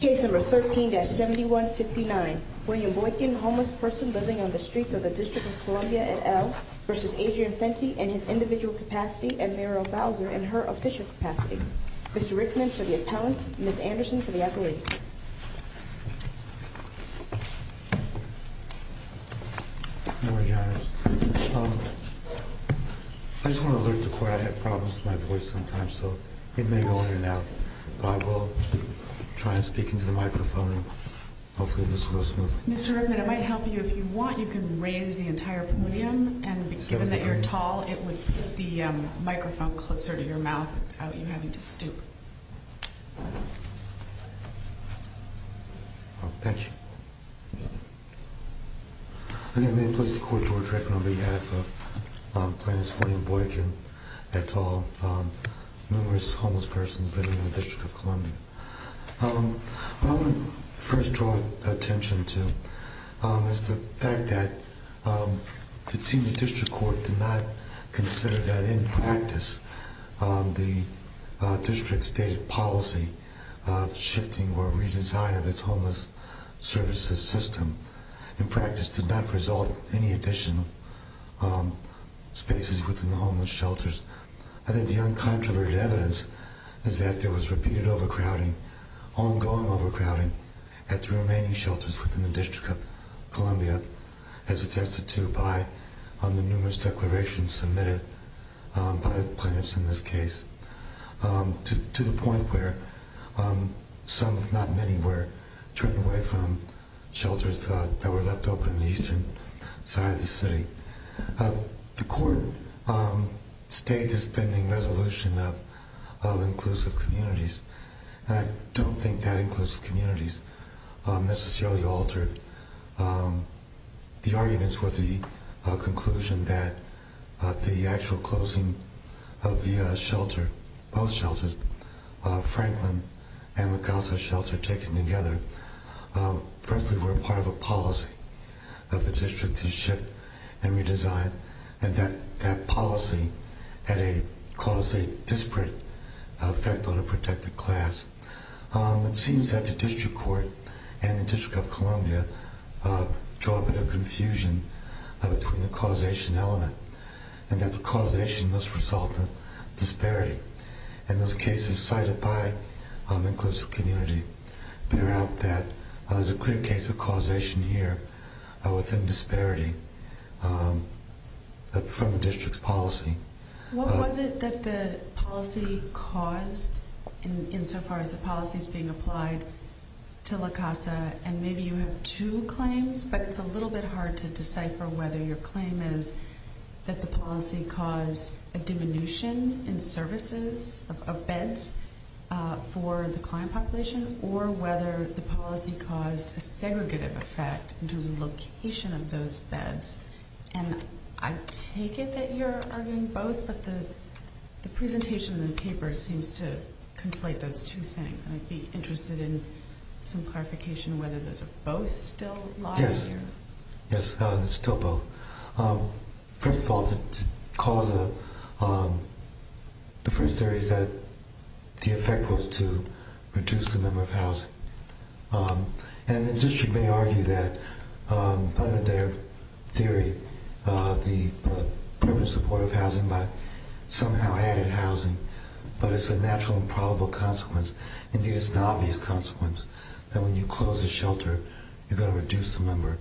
Case number 13-7159, William Boykin, homeless person living on the streets of the District of Columbia at L. v. Adrian Fenty and his individual capacity and Meryl Bowser and her official capacity. Mr. Rickman for the appellants, Ms. Anderson for the accolades. I just want to alert the court I have problems with my voice sometimes so it may go in and out but I will try and speak into the microphone and hopefully this goes smoothly. Mr. Rickman it might help you if you want you can raise the entire podium and given that you're tall it would put the microphone closer to your mouth without you having to stoop. Thank you. I'm going to place the court toward Rickman on behalf of Plaintiff's William Boykin et al. numerous homeless persons living in the District of Columbia. What I want to first draw attention to is the fact that the Senior District Court did not consider that in practice the District's stated policy of shifting or redesign of its homeless services system in practice did not result in any additional spaces within the homeless shelters. I think the uncontroverted evidence is that there was repeated overcrowding, ongoing overcrowding at the remaining shelters within the District of Columbia as attested to by the numerous declarations submitted by plaintiffs in this case to the point where not many were turned away from shelters that were left open in the eastern side of the city. The court stated this pending resolution of inclusive communities and I don't think that inclusive communities necessarily altered the arguments for the conclusion that the actual closing of the shelter, both shelters, Franklin and La Casa shelter taken together, frankly were part of a policy of the District to shift and redesign the shelter. That policy caused a disparate effect on a protected class. It seems that the District Court and the District of Columbia draw a bit of confusion between the causation element and that the causation must result in disparity. Those cases cited by inclusive communities bear out that there is a clear case of causation here within disparity from the District's policy. What was it that the policy caused insofar as the policy is being applied to La Casa and maybe you have two claims but it's a little bit hard to decipher whether your claim is that the policy caused a diminution in services of beds for the client population or whether the policy caused a segregative effect in terms of location of those beds. I take it that you're arguing both but the presentation in the paper seems to conflate those two things and I'd be interested in some clarification whether those are both still lies here. Yes, they're still both. First of all, the cause of the first theory is that the effect was to reduce the number of housing. And the District may argue that under their theory the permanent support of housing by somehow added housing but it's a natural and probable consequence. Indeed, it's an obvious consequence that when you close a shelter you're going to reduce the number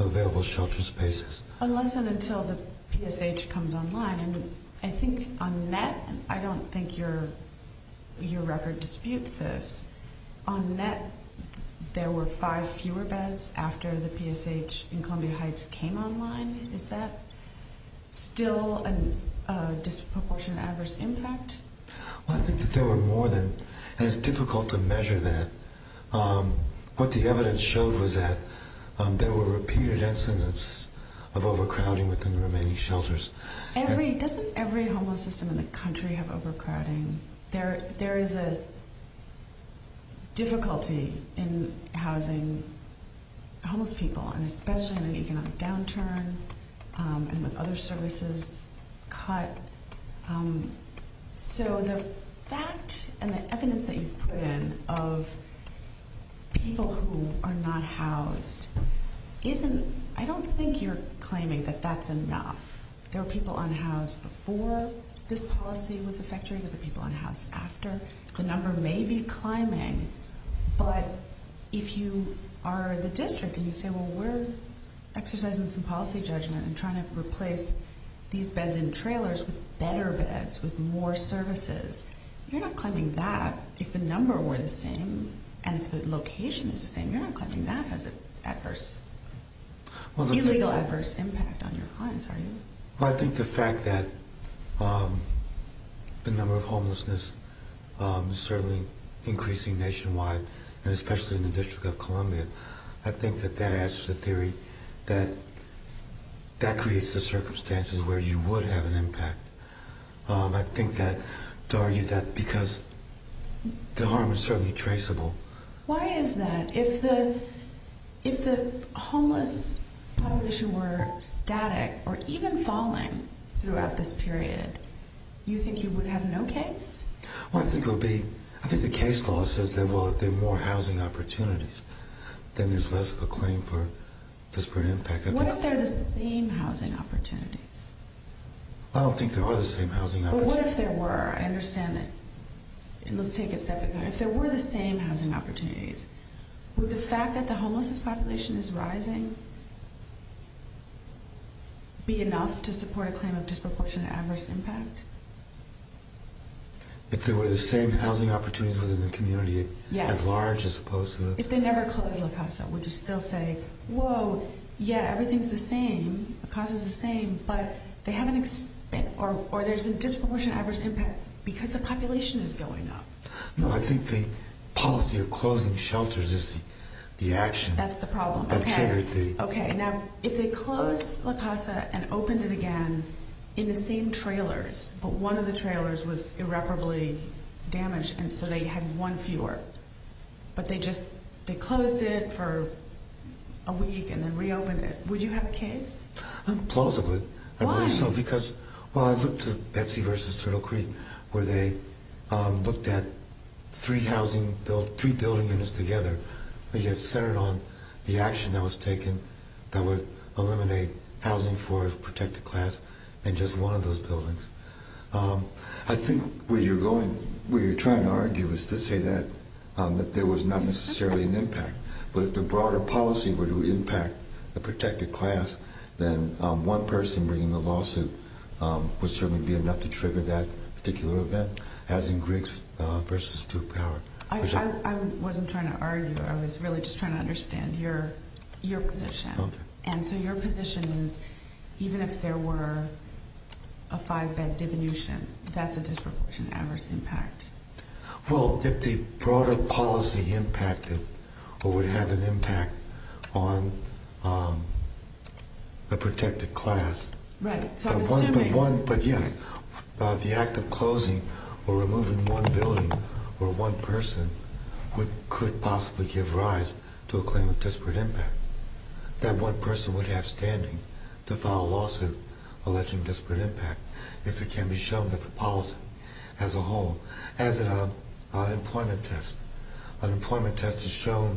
of available shelter spaces. Unless and until the PSH comes online and I think on the net, I don't think your record disputes this, on the net there were five fewer beds after the PSH in Columbia Heights came online. Is that still a disproportionate adverse impact? I think that there were more than, and it's difficult to measure that. What the evidence showed was that there were repeated incidents of overcrowding within the remaining shelters. Doesn't every homeless system in the country have overcrowding? There is a difficulty in housing homeless people and especially in an economic downturn and with other services cut. So the fact and the evidence that you've put in of people who are not housed isn't, I don't think you're claiming that that's enough. There were people unhoused before this policy was effectuated, there were people unhoused after. The number may be climbing, but if you are the district and you say, well, we're exercising some policy judgment and trying to replace these beds in trailers with better beds, with more services, you're not claiming that. If the number were the same and if the location is the same, you're not claiming that has an adverse, illegal adverse impact on your clients, are you? I think the fact that the number of homelessness is certainly increasing nationwide and especially in the District of Columbia, I think that that answers the theory that that creates the circumstances where you would have an impact. I think that to argue that because the harm is certainly traceable. Why is that? If the homeless population were static or even falling throughout this period, you think you would have no case? I think the case law says that if there are more housing opportunities, then there's less of a claim for disparate impact. What if there are the same housing opportunities? I don't think there are the same housing opportunities. But what if there were? I understand that. And let's take it step by step. If there were the same housing opportunities, would the fact that the homeless population is rising be enough to support a claim of disproportionate adverse impact? If there were the same housing opportunities within the community, as large as opposed to... If they never closed La Casa, would you still say, whoa, yeah, everything's the same, La Casa's the same, but they haven't... or there's a disproportionate adverse impact because the population is going up? No, I think the policy of closing shelters is the action. That's the problem. Okay. Okay. Now, if they closed La Casa and opened it again in the same trailers, but one of the trailers was irreparably damaged, and so they had one fewer, but they closed it for a week and then reopened it, would you have a case? I'm plausible. I believe so. Why? Because, well, I've looked at Betsy versus Turtle Creek, where they looked at three housing... three building units together. They just centered on the action that was taken that would eliminate housing for a protected class in just one of those buildings. I think where you're going... where you're trying to argue is to say that there was not necessarily an impact, but if the broader policy were to impact a protected class, then one person bringing a lawsuit would certainly be enough to trigger that particular event, as in Griggs versus Duke Power. I wasn't trying to argue. I was really just trying to understand your position. Okay. And so your position is even if there were a five-bed diminution, that's a disproportionate adverse impact. Well, if the broader policy impacted or would have an impact on a protected class... Right. So I'm assuming... But, yes, the act of closing or removing one building or one person could possibly give rise to a claim of disparate impact. That one person would have standing to file a lawsuit alleging disparate impact if it can be shown that the policy as a whole... Unemployment test. Unemployment test has shown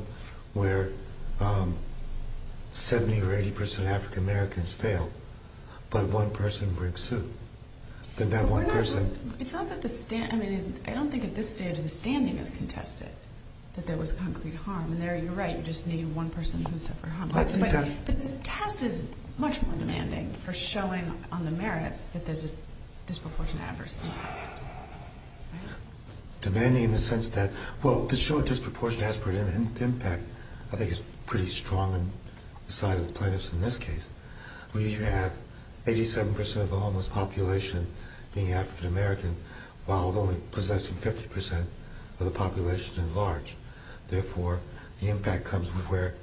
where 70 or 80 percent of African Americans fail, but one person brings suit. It's not that the... I mean, I don't think at this stage the standing is contested, that there was concrete harm. And there, you're right, you just need one person to suffer harm. But the test is much more demanding for showing on the merits that there's a disproportionate adverse impact. Demanding in the sense that, well, to show a disproportionate adverse impact I think is pretty strong on the side of plaintiffs in this case. We usually have 87 percent of the homeless population being African American, while only possessing 50 percent of the population at large. Therefore, the impact comes with where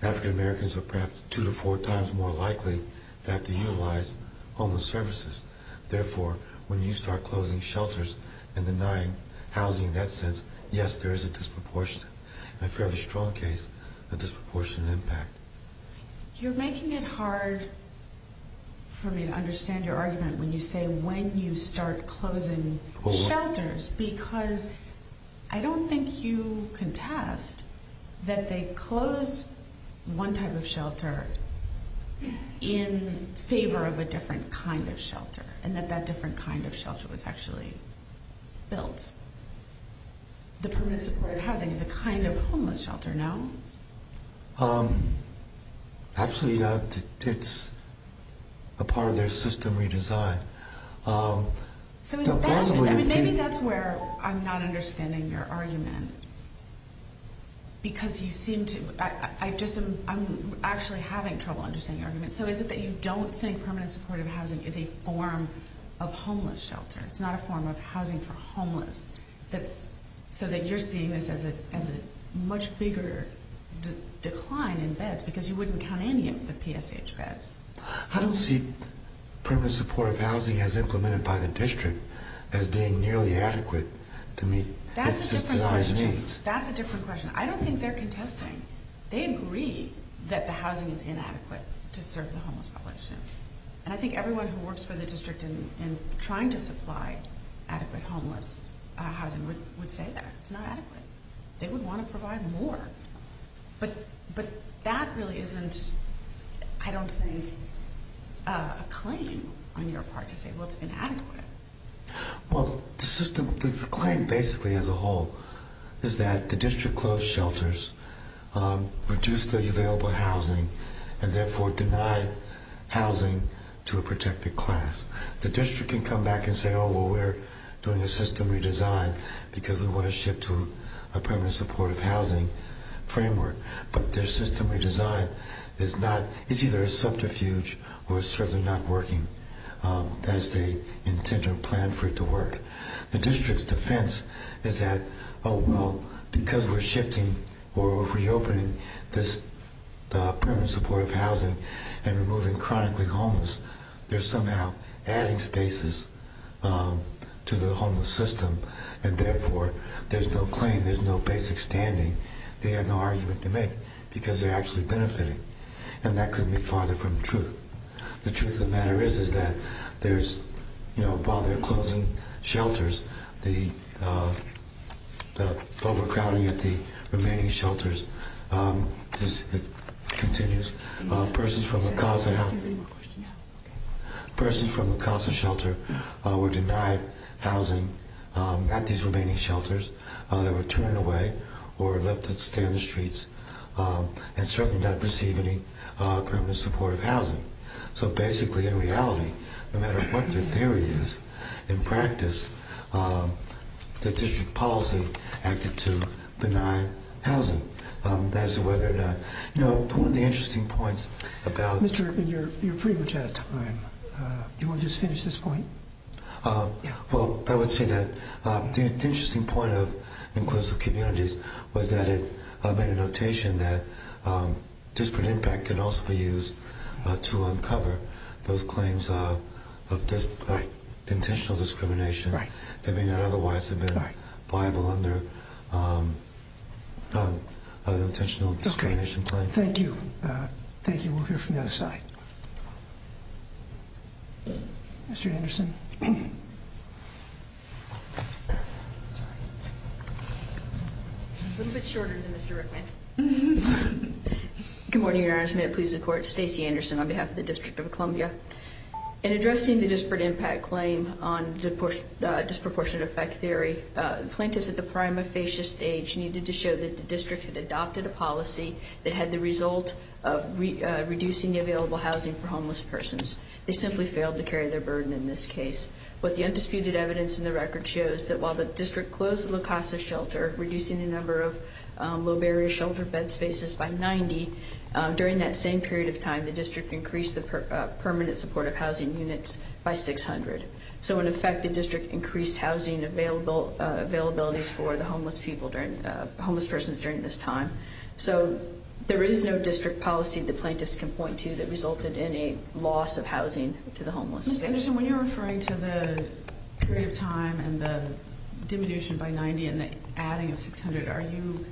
African Americans are perhaps two to four times more likely to have to utilize homeless services. Therefore, when you start closing shelters and denying housing in that sense, yes, there is a disproportionate, in a fairly strong case, a disproportionate impact. You're making it hard for me to understand your argument when you say when you start closing shelters, because I don't think you contest that they closed one type of shelter in favor of a different kind of shelter, and that that different kind of shelter was actually built. The permanent supportive housing is a kind of homeless shelter now. Actually, it's a part of their system redesign. Maybe that's where I'm not understanding your argument. I'm actually having trouble understanding your argument. Is it that you don't think permanent supportive housing is a form of homeless shelter? It's not a form of housing for homeless, so that you're seeing this as a much bigger decline in beds, because you wouldn't count any of the PSH beds. I don't see permanent supportive housing as implemented by the district as being nearly adequate to meet its systemized needs. That's a different question. I don't think they're contesting. They agree that the housing is inadequate to serve the homeless population. And I think everyone who works for the district in trying to supply adequate homeless housing would say that. It's not adequate. They would want to provide more. But that really isn't, I don't think, a claim on your part to say, well, it's inadequate. Well, the claim basically as a whole is that the district closed shelters, reduced the available housing, and therefore denied housing to a protected class. The district can come back and say, oh, well, we're doing a system redesign because we want to shift to a permanent supportive housing framework. But their system redesign is either a subterfuge or certainly not working as they intend or plan for it to work. The district's defense is that, oh, well, because we're shifting or reopening this permanent supportive housing and removing chronically homeless, they're somehow adding spaces to the homeless system. And therefore, there's no claim. There's no basic standing. They have no argument to make because they're actually benefiting. The truth of the matter is, is that there's, you know, while they're closing shelters, the overcrowding at the remaining shelters continues. Persons from the Casa shelter were denied housing at these remaining shelters. They were turned away or left to stand in the streets and certainly not receive any permanent supportive housing. So basically, in reality, no matter what their theory is, in practice, the district policy acted to deny housing. As to whether or not, you know, one of the interesting points about... Mr. Irvin, you're pretty much out of time. Do you want to just finish this point? Well, I would say that the interesting point of inclusive communities was that it made a notation that disparate impact can also be used to uncover those claims of intentional discrimination that may not otherwise have been viable under an intentional discrimination claim. Thank you. Thank you. We'll hear from the other side. Mr. Anderson. A little bit shorter than Mr. Rickman. Good morning, Your Honor. May it please the Court. Stacey Anderson on behalf of the District of Columbia. In addressing the disparate impact claim on disproportionate effect theory, plaintiffs at the prima facie stage needed to show that the district had adopted a policy that had the result of reducing the available housing for homeless persons. They simply failed to carry their burden in this case. But the undisputed evidence in the record shows that while the district closed the La Casa shelter, reducing the number of low barrier shelter bed spaces by 90, during that same period of time, the district increased the permanent supportive housing units by 600. So, in effect, the district increased housing availabilities for the homeless persons during this time. So, there is no district policy the plaintiffs can point to that resulted in a loss of housing to the homeless. Ms. Anderson, when you're referring to the period of time and the diminution by 90 and the adding of 600, are you,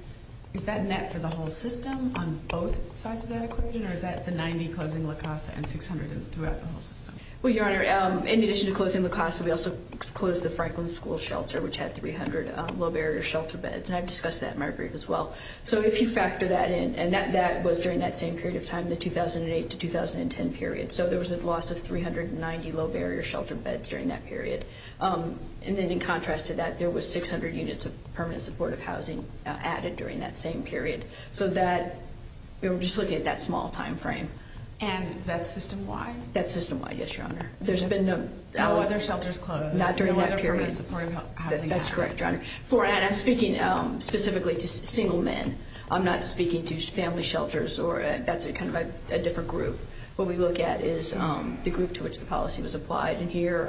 is that net for the whole system on both sides of that equation? Or is that the 90 closing La Casa and 600 throughout the whole system? Well, Your Honor, in addition to closing La Casa, we also closed the Franklin School shelter, which had 300 low barrier shelter beds. And I've discussed that in my brief as well. So, if you factor that in, and that was during that same period of time, the 2008 to 2010 period. So, there was a loss of 390 low barrier shelter beds during that period. And then in contrast to that, there was 600 units of permanent supportive housing added during that same period. So, that, we were just looking at that small time frame. And that's system-wide? That's system-wide, yes, Your Honor. There's been no other shelters closed? Not during that period. No other permanent supportive housing added? That's correct, Your Honor. For, and I'm speaking specifically to single men. I'm not speaking to family shelters or, that's kind of a different group. What we look at is the group to which the policy was applied. And here,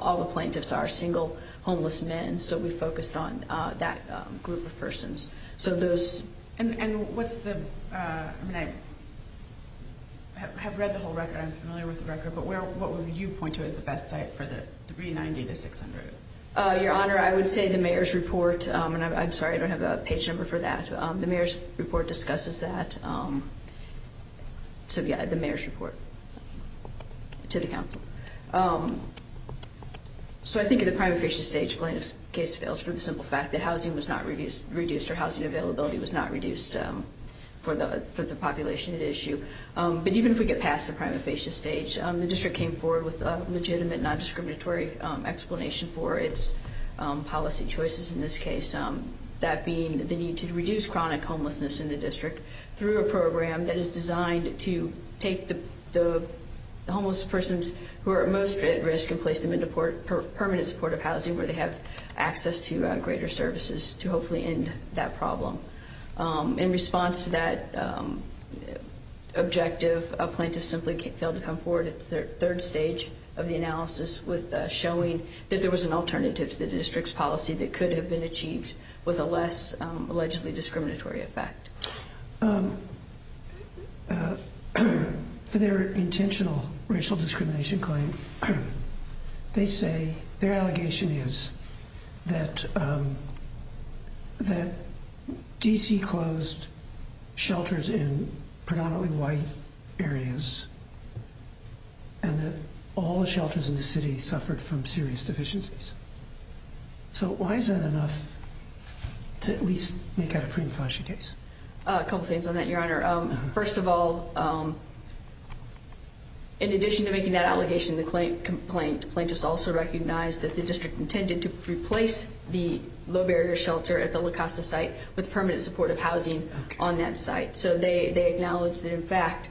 all the plaintiffs are single, homeless men. So, we focused on that group of persons. So, those. And what's the, I mean, I have read the whole record. I'm familiar with the record. But where, what would you point to as the best site for the 390 to 600? Your Honor, I would say the mayor's report. And I'm sorry, I don't have a page number for that. The mayor's report discusses that. So, yeah, the mayor's report to the council. So, I think at the prima facie stage, plaintiff's case fails for the simple fact that housing was not reduced or housing availability was not reduced for the population at issue. But even if we get past the prima facie stage, the district came forward with a legitimate non-discriminatory explanation for its policy choices in this case, that being the need to reduce chronic homelessness in the district through a program that is designed to take the homeless persons who are most at risk and place them into permanent supportive housing where they have access to greater services to hopefully end that problem. In response to that objective, a plaintiff simply failed to come forward at the third stage of the analysis with showing that there was an alternative to the district's policy that could have been achieved with a less allegedly discriminatory effect. For their intentional racial discrimination claim, they say, their allegation is that D.C. closed shelters in predominantly white areas and that all the shelters in the city suffered from serious deficiencies. So, why is that enough to at least make out a prima facie case? A couple things on that, your honor. First of all, in addition to making that allegation in the complaint, plaintiffs also recognized that the district intended to replace the low barrier shelter at the La Costa site with permanent supportive housing on that site. So, they acknowledged that, in fact,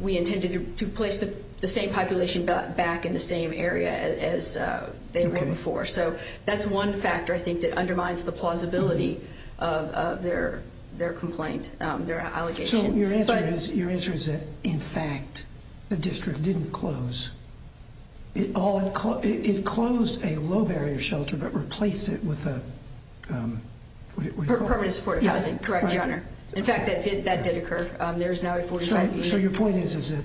we intended to place the same population back in the same area as they were before. So, that's one factor, I think, that undermines the plausibility of their complaint, their allegation. So, your answer is that, in fact, the district didn't close. It closed a low barrier shelter but replaced it with a... Permanent supportive housing, correct, your honor. In fact, that did occur. So, your point is that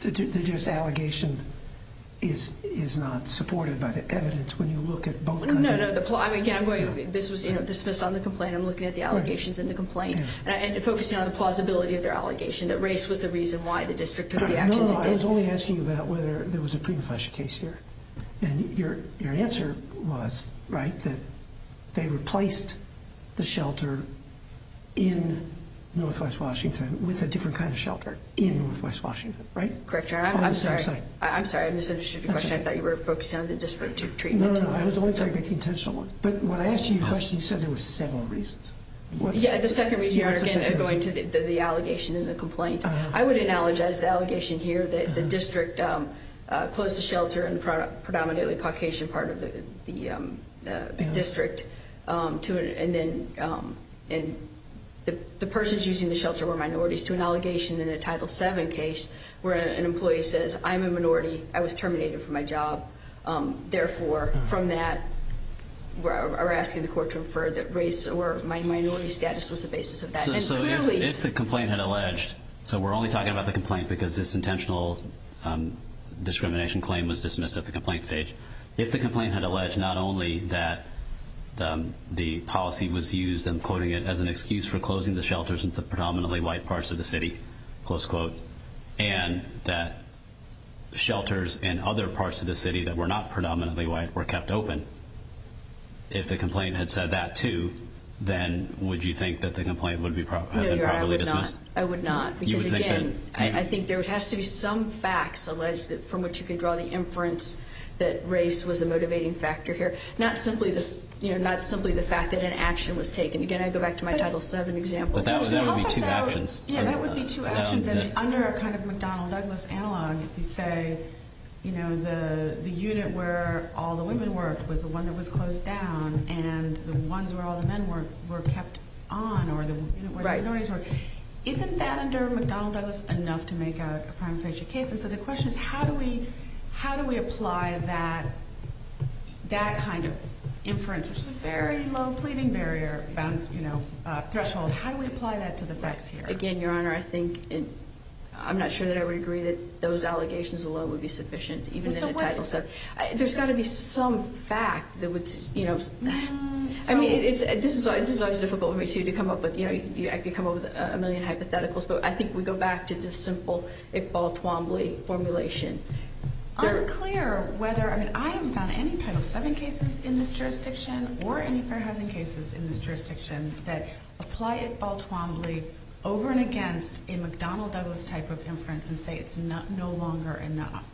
this allegation is not supported by the evidence when you look at both... No, no, again, this was dismissed on the complaint. I'm looking at the allegations in the complaint and focusing on the plausibility of their allegation, that race was the reason why the district took the actions it did. No, no, I was only asking you about whether there was a prima facie case here. And your answer was, right, that they replaced the shelter in Northwest Washington with a different kind of shelter in Northwest Washington, right? Correct, your honor. I'm sorry, I misunderstood your question. I thought you were focusing on the district treatment. No, no, I was only talking about the intentional one. But when I asked you your question, you said there were several reasons. Yeah, the second reason, your honor, again, going to the allegation in the complaint. I would acknowledge, as the allegation here, that the district closed the shelter in the predominantly Caucasian part of the district. And then the persons using the shelter were minorities, to an allegation in a Title VII case where an employee says, I'm a minority, I was terminated from my job. Therefore, from that, we're asking the court to infer that race or minority status was the basis of that. So if the complaint had alleged, so we're only talking about the complaint because this intentional discrimination claim was dismissed at the complaint stage. If the complaint had alleged not only that the policy was used, I'm quoting it, as an excuse for closing the shelters in the predominantly white parts of the city, close quote, and that shelters in other parts of the city that were not predominantly white were kept open, if the complaint had said that too, then would you think that the complaint would have been properly dismissed? No, your honor, I would not. I would not. Because again, I think there has to be some facts alleged from which you can draw the inference that race was a motivating factor here. Not simply the fact that an action was taken. Again, I go back to my Title VII example. But that would be two actions. Yeah, that would be two actions. And under a kind of McDonnell-Douglas analog, you say, you know, the unit where all the women worked was the one that was closed down, and the ones where all the men were kept on, or the unit where the minorities worked. Isn't that under McDonnell-Douglas enough to make a crime of friendship case? And so the question is how do we apply that kind of inference, which is a very low pleading barrier, you know, threshold. How do we apply that to the facts here? Again, your honor, I think I'm not sure that I would agree that those allegations alone would be sufficient, even in a Title VII. There's got to be some fact that would, you know, I mean, this is always difficult for me, too, to come up with. You know, I could come up with a million hypotheticals, but I think we go back to this simple Iqbal-Twombly formulation. It's unclear whether, I mean, I haven't found any Title VII cases in this jurisdiction or any fair housing cases in this jurisdiction that apply Iqbal-Twombly over and against a McDonnell-Douglas type of inference and say it's no longer enough.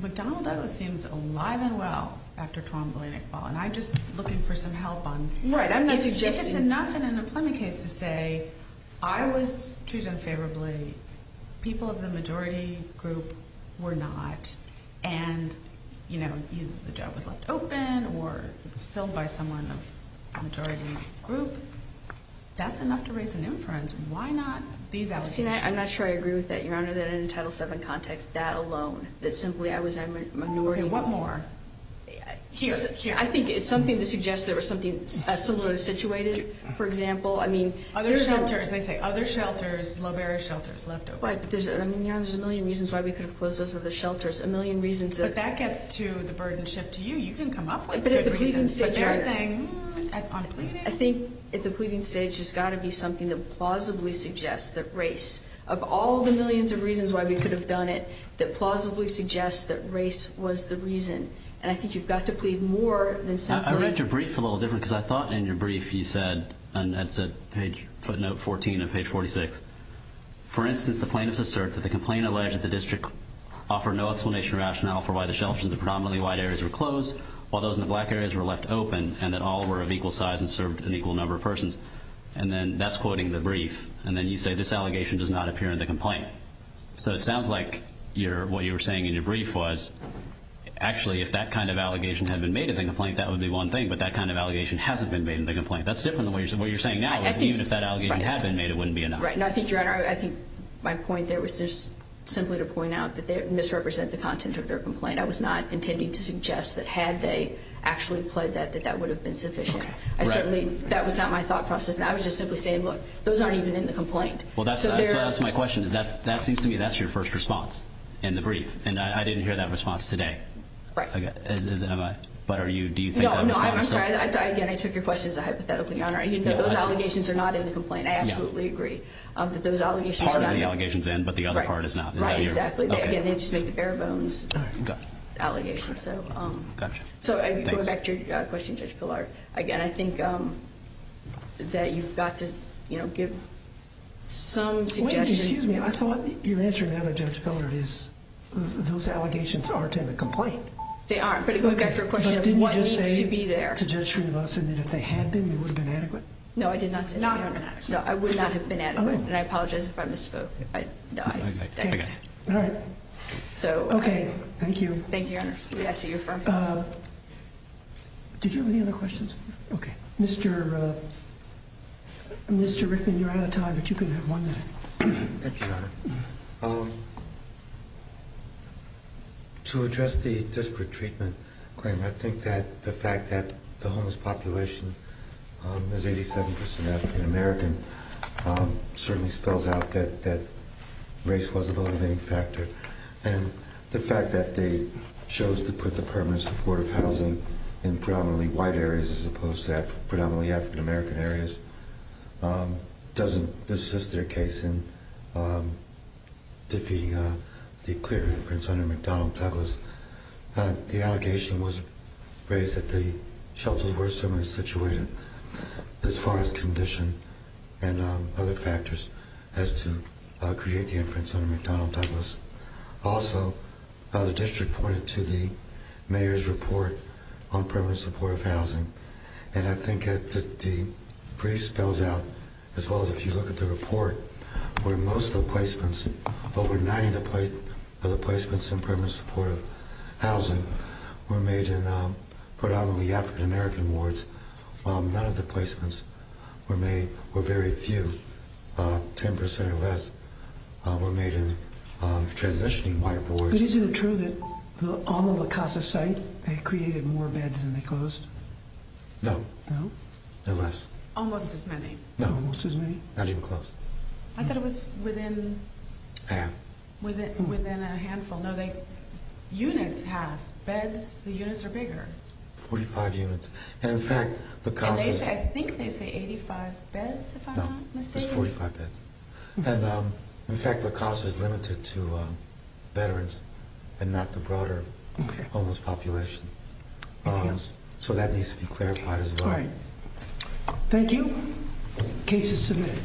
McDonnell-Douglas seems alive and well after Twombly and Iqbal, and I'm just looking for some help on if it's enough in an employment case to say, I was treated unfavorably, people of the majority group were not, and, you know, either the job was left open or it was filled by someone of the majority group. That's enough to raise an inference. Why not these allegations? I'm not sure I agree with that, your honor, that in a Title VII context, that alone, that simply I was a minority. Okay, what more? I think it's something to suggest there was something similarly situated, for example. Other shelters. They say other shelters, low barrier shelters, left open. Right, but, your honor, there's a million reasons why we could have closed those other shelters, a million reasons. But that gets to the burdenship to you. You can come up with good reasons, but they're saying on pleading. I think at the pleading stage, there's got to be something that plausibly suggests that race, of all the millions of reasons why we could have done it, that plausibly suggests that race was the reason. And I think you've got to plead more than simply. I read your brief a little different because I thought in your brief you said, and that's footnote 14 of page 46, for instance, the plaintiffs assert that the complaint alleged that the district offered no explanation or rationale for why the shelters in the predominantly white areas were closed while those in the black areas were left open and that all were of equal size and served an equal number of persons. And then that's quoting the brief. And then you say this allegation does not appear in the complaint. So it sounds like what you were saying in your brief was, actually, if that kind of allegation had been made in the complaint, that would be one thing. But that kind of allegation hasn't been made in the complaint. That's different than what you're saying now is even if that allegation had been made, it wouldn't be enough. No, I think, Your Honor, I think my point there was just simply to point out that they misrepresent the content of their complaint. I was not intending to suggest that had they actually pled that, that that would have been sufficient. I certainly, that was not my thought process. And I was just simply saying, look, those aren't even in the complaint. Well, that's my question is that seems to me that's your first response in the brief. And I didn't hear that response today. Right. As am I. But are you, do you think that response? No, no, I'm sorry. Again, I took your question as a hypothetical, Your Honor. I didn't know those allegations are not in the complaint. I absolutely agree that those allegations are not in the complaint. Part of the allegations are in, but the other part is not. Right, exactly. Again, they just make the bare bones allegations. Gotcha. So going back to your question, Judge Pillar, again, I think that you've got to, you know, give some suggestions. Excuse me. I thought your answer now, Judge Pillar, is those allegations aren't in the complaint. They aren't. But it goes back to your question of what needs to be there. But didn't you just say to Judge Srinivasan that if they had been, they would have been adequate? No, I did not say that. No, I would not have been adequate. And I apologize if I misspoke. No, I didn't. Okay. All right. So. Okay. Thank you. Thank you, Your Honor. We ask that you affirm. Did you have any other questions? No. Okay. Mr. Rickman, you're out of time, but you can have one minute. Thank you, Your Honor. To address the disparate treatment claim, I think that the fact that the homeless population is 87 percent African American certainly spells out that race was a motivating factor. And the fact that they chose to put the permanent supportive housing in predominantly white areas as opposed to predominantly African American areas doesn't assist their case in defeating the clear inference under McDonnell Douglas. The allegation was raised that the shelters were similarly situated as far as condition and other factors as to create the inference under McDonnell Douglas. Also, the district pointed to the mayor's report on permanent supportive housing. And I think that the brief spells out, as well as if you look at the report, where most of the placements, over 90 of the placements in permanent supportive housing were made in predominantly African American wards, none of the placements were made, or very few, 10 percent or less, were made in transitioning white wards. But isn't it true that on the La Casa site, they created more beds than they closed? No. No? No less. Almost as many. No. Almost as many? Not even close. I thought it was within... Half. Within a handful. No, units half. Beds, the units are bigger. 45 units. And in fact, La Casa... I think they say 85 beds, if I'm not mistaken. No, it's 45 beds. And in fact, La Casa is limited to veterans and not the broader homeless population. So that needs to be clarified as well. All right. Thank you. Case is submitted.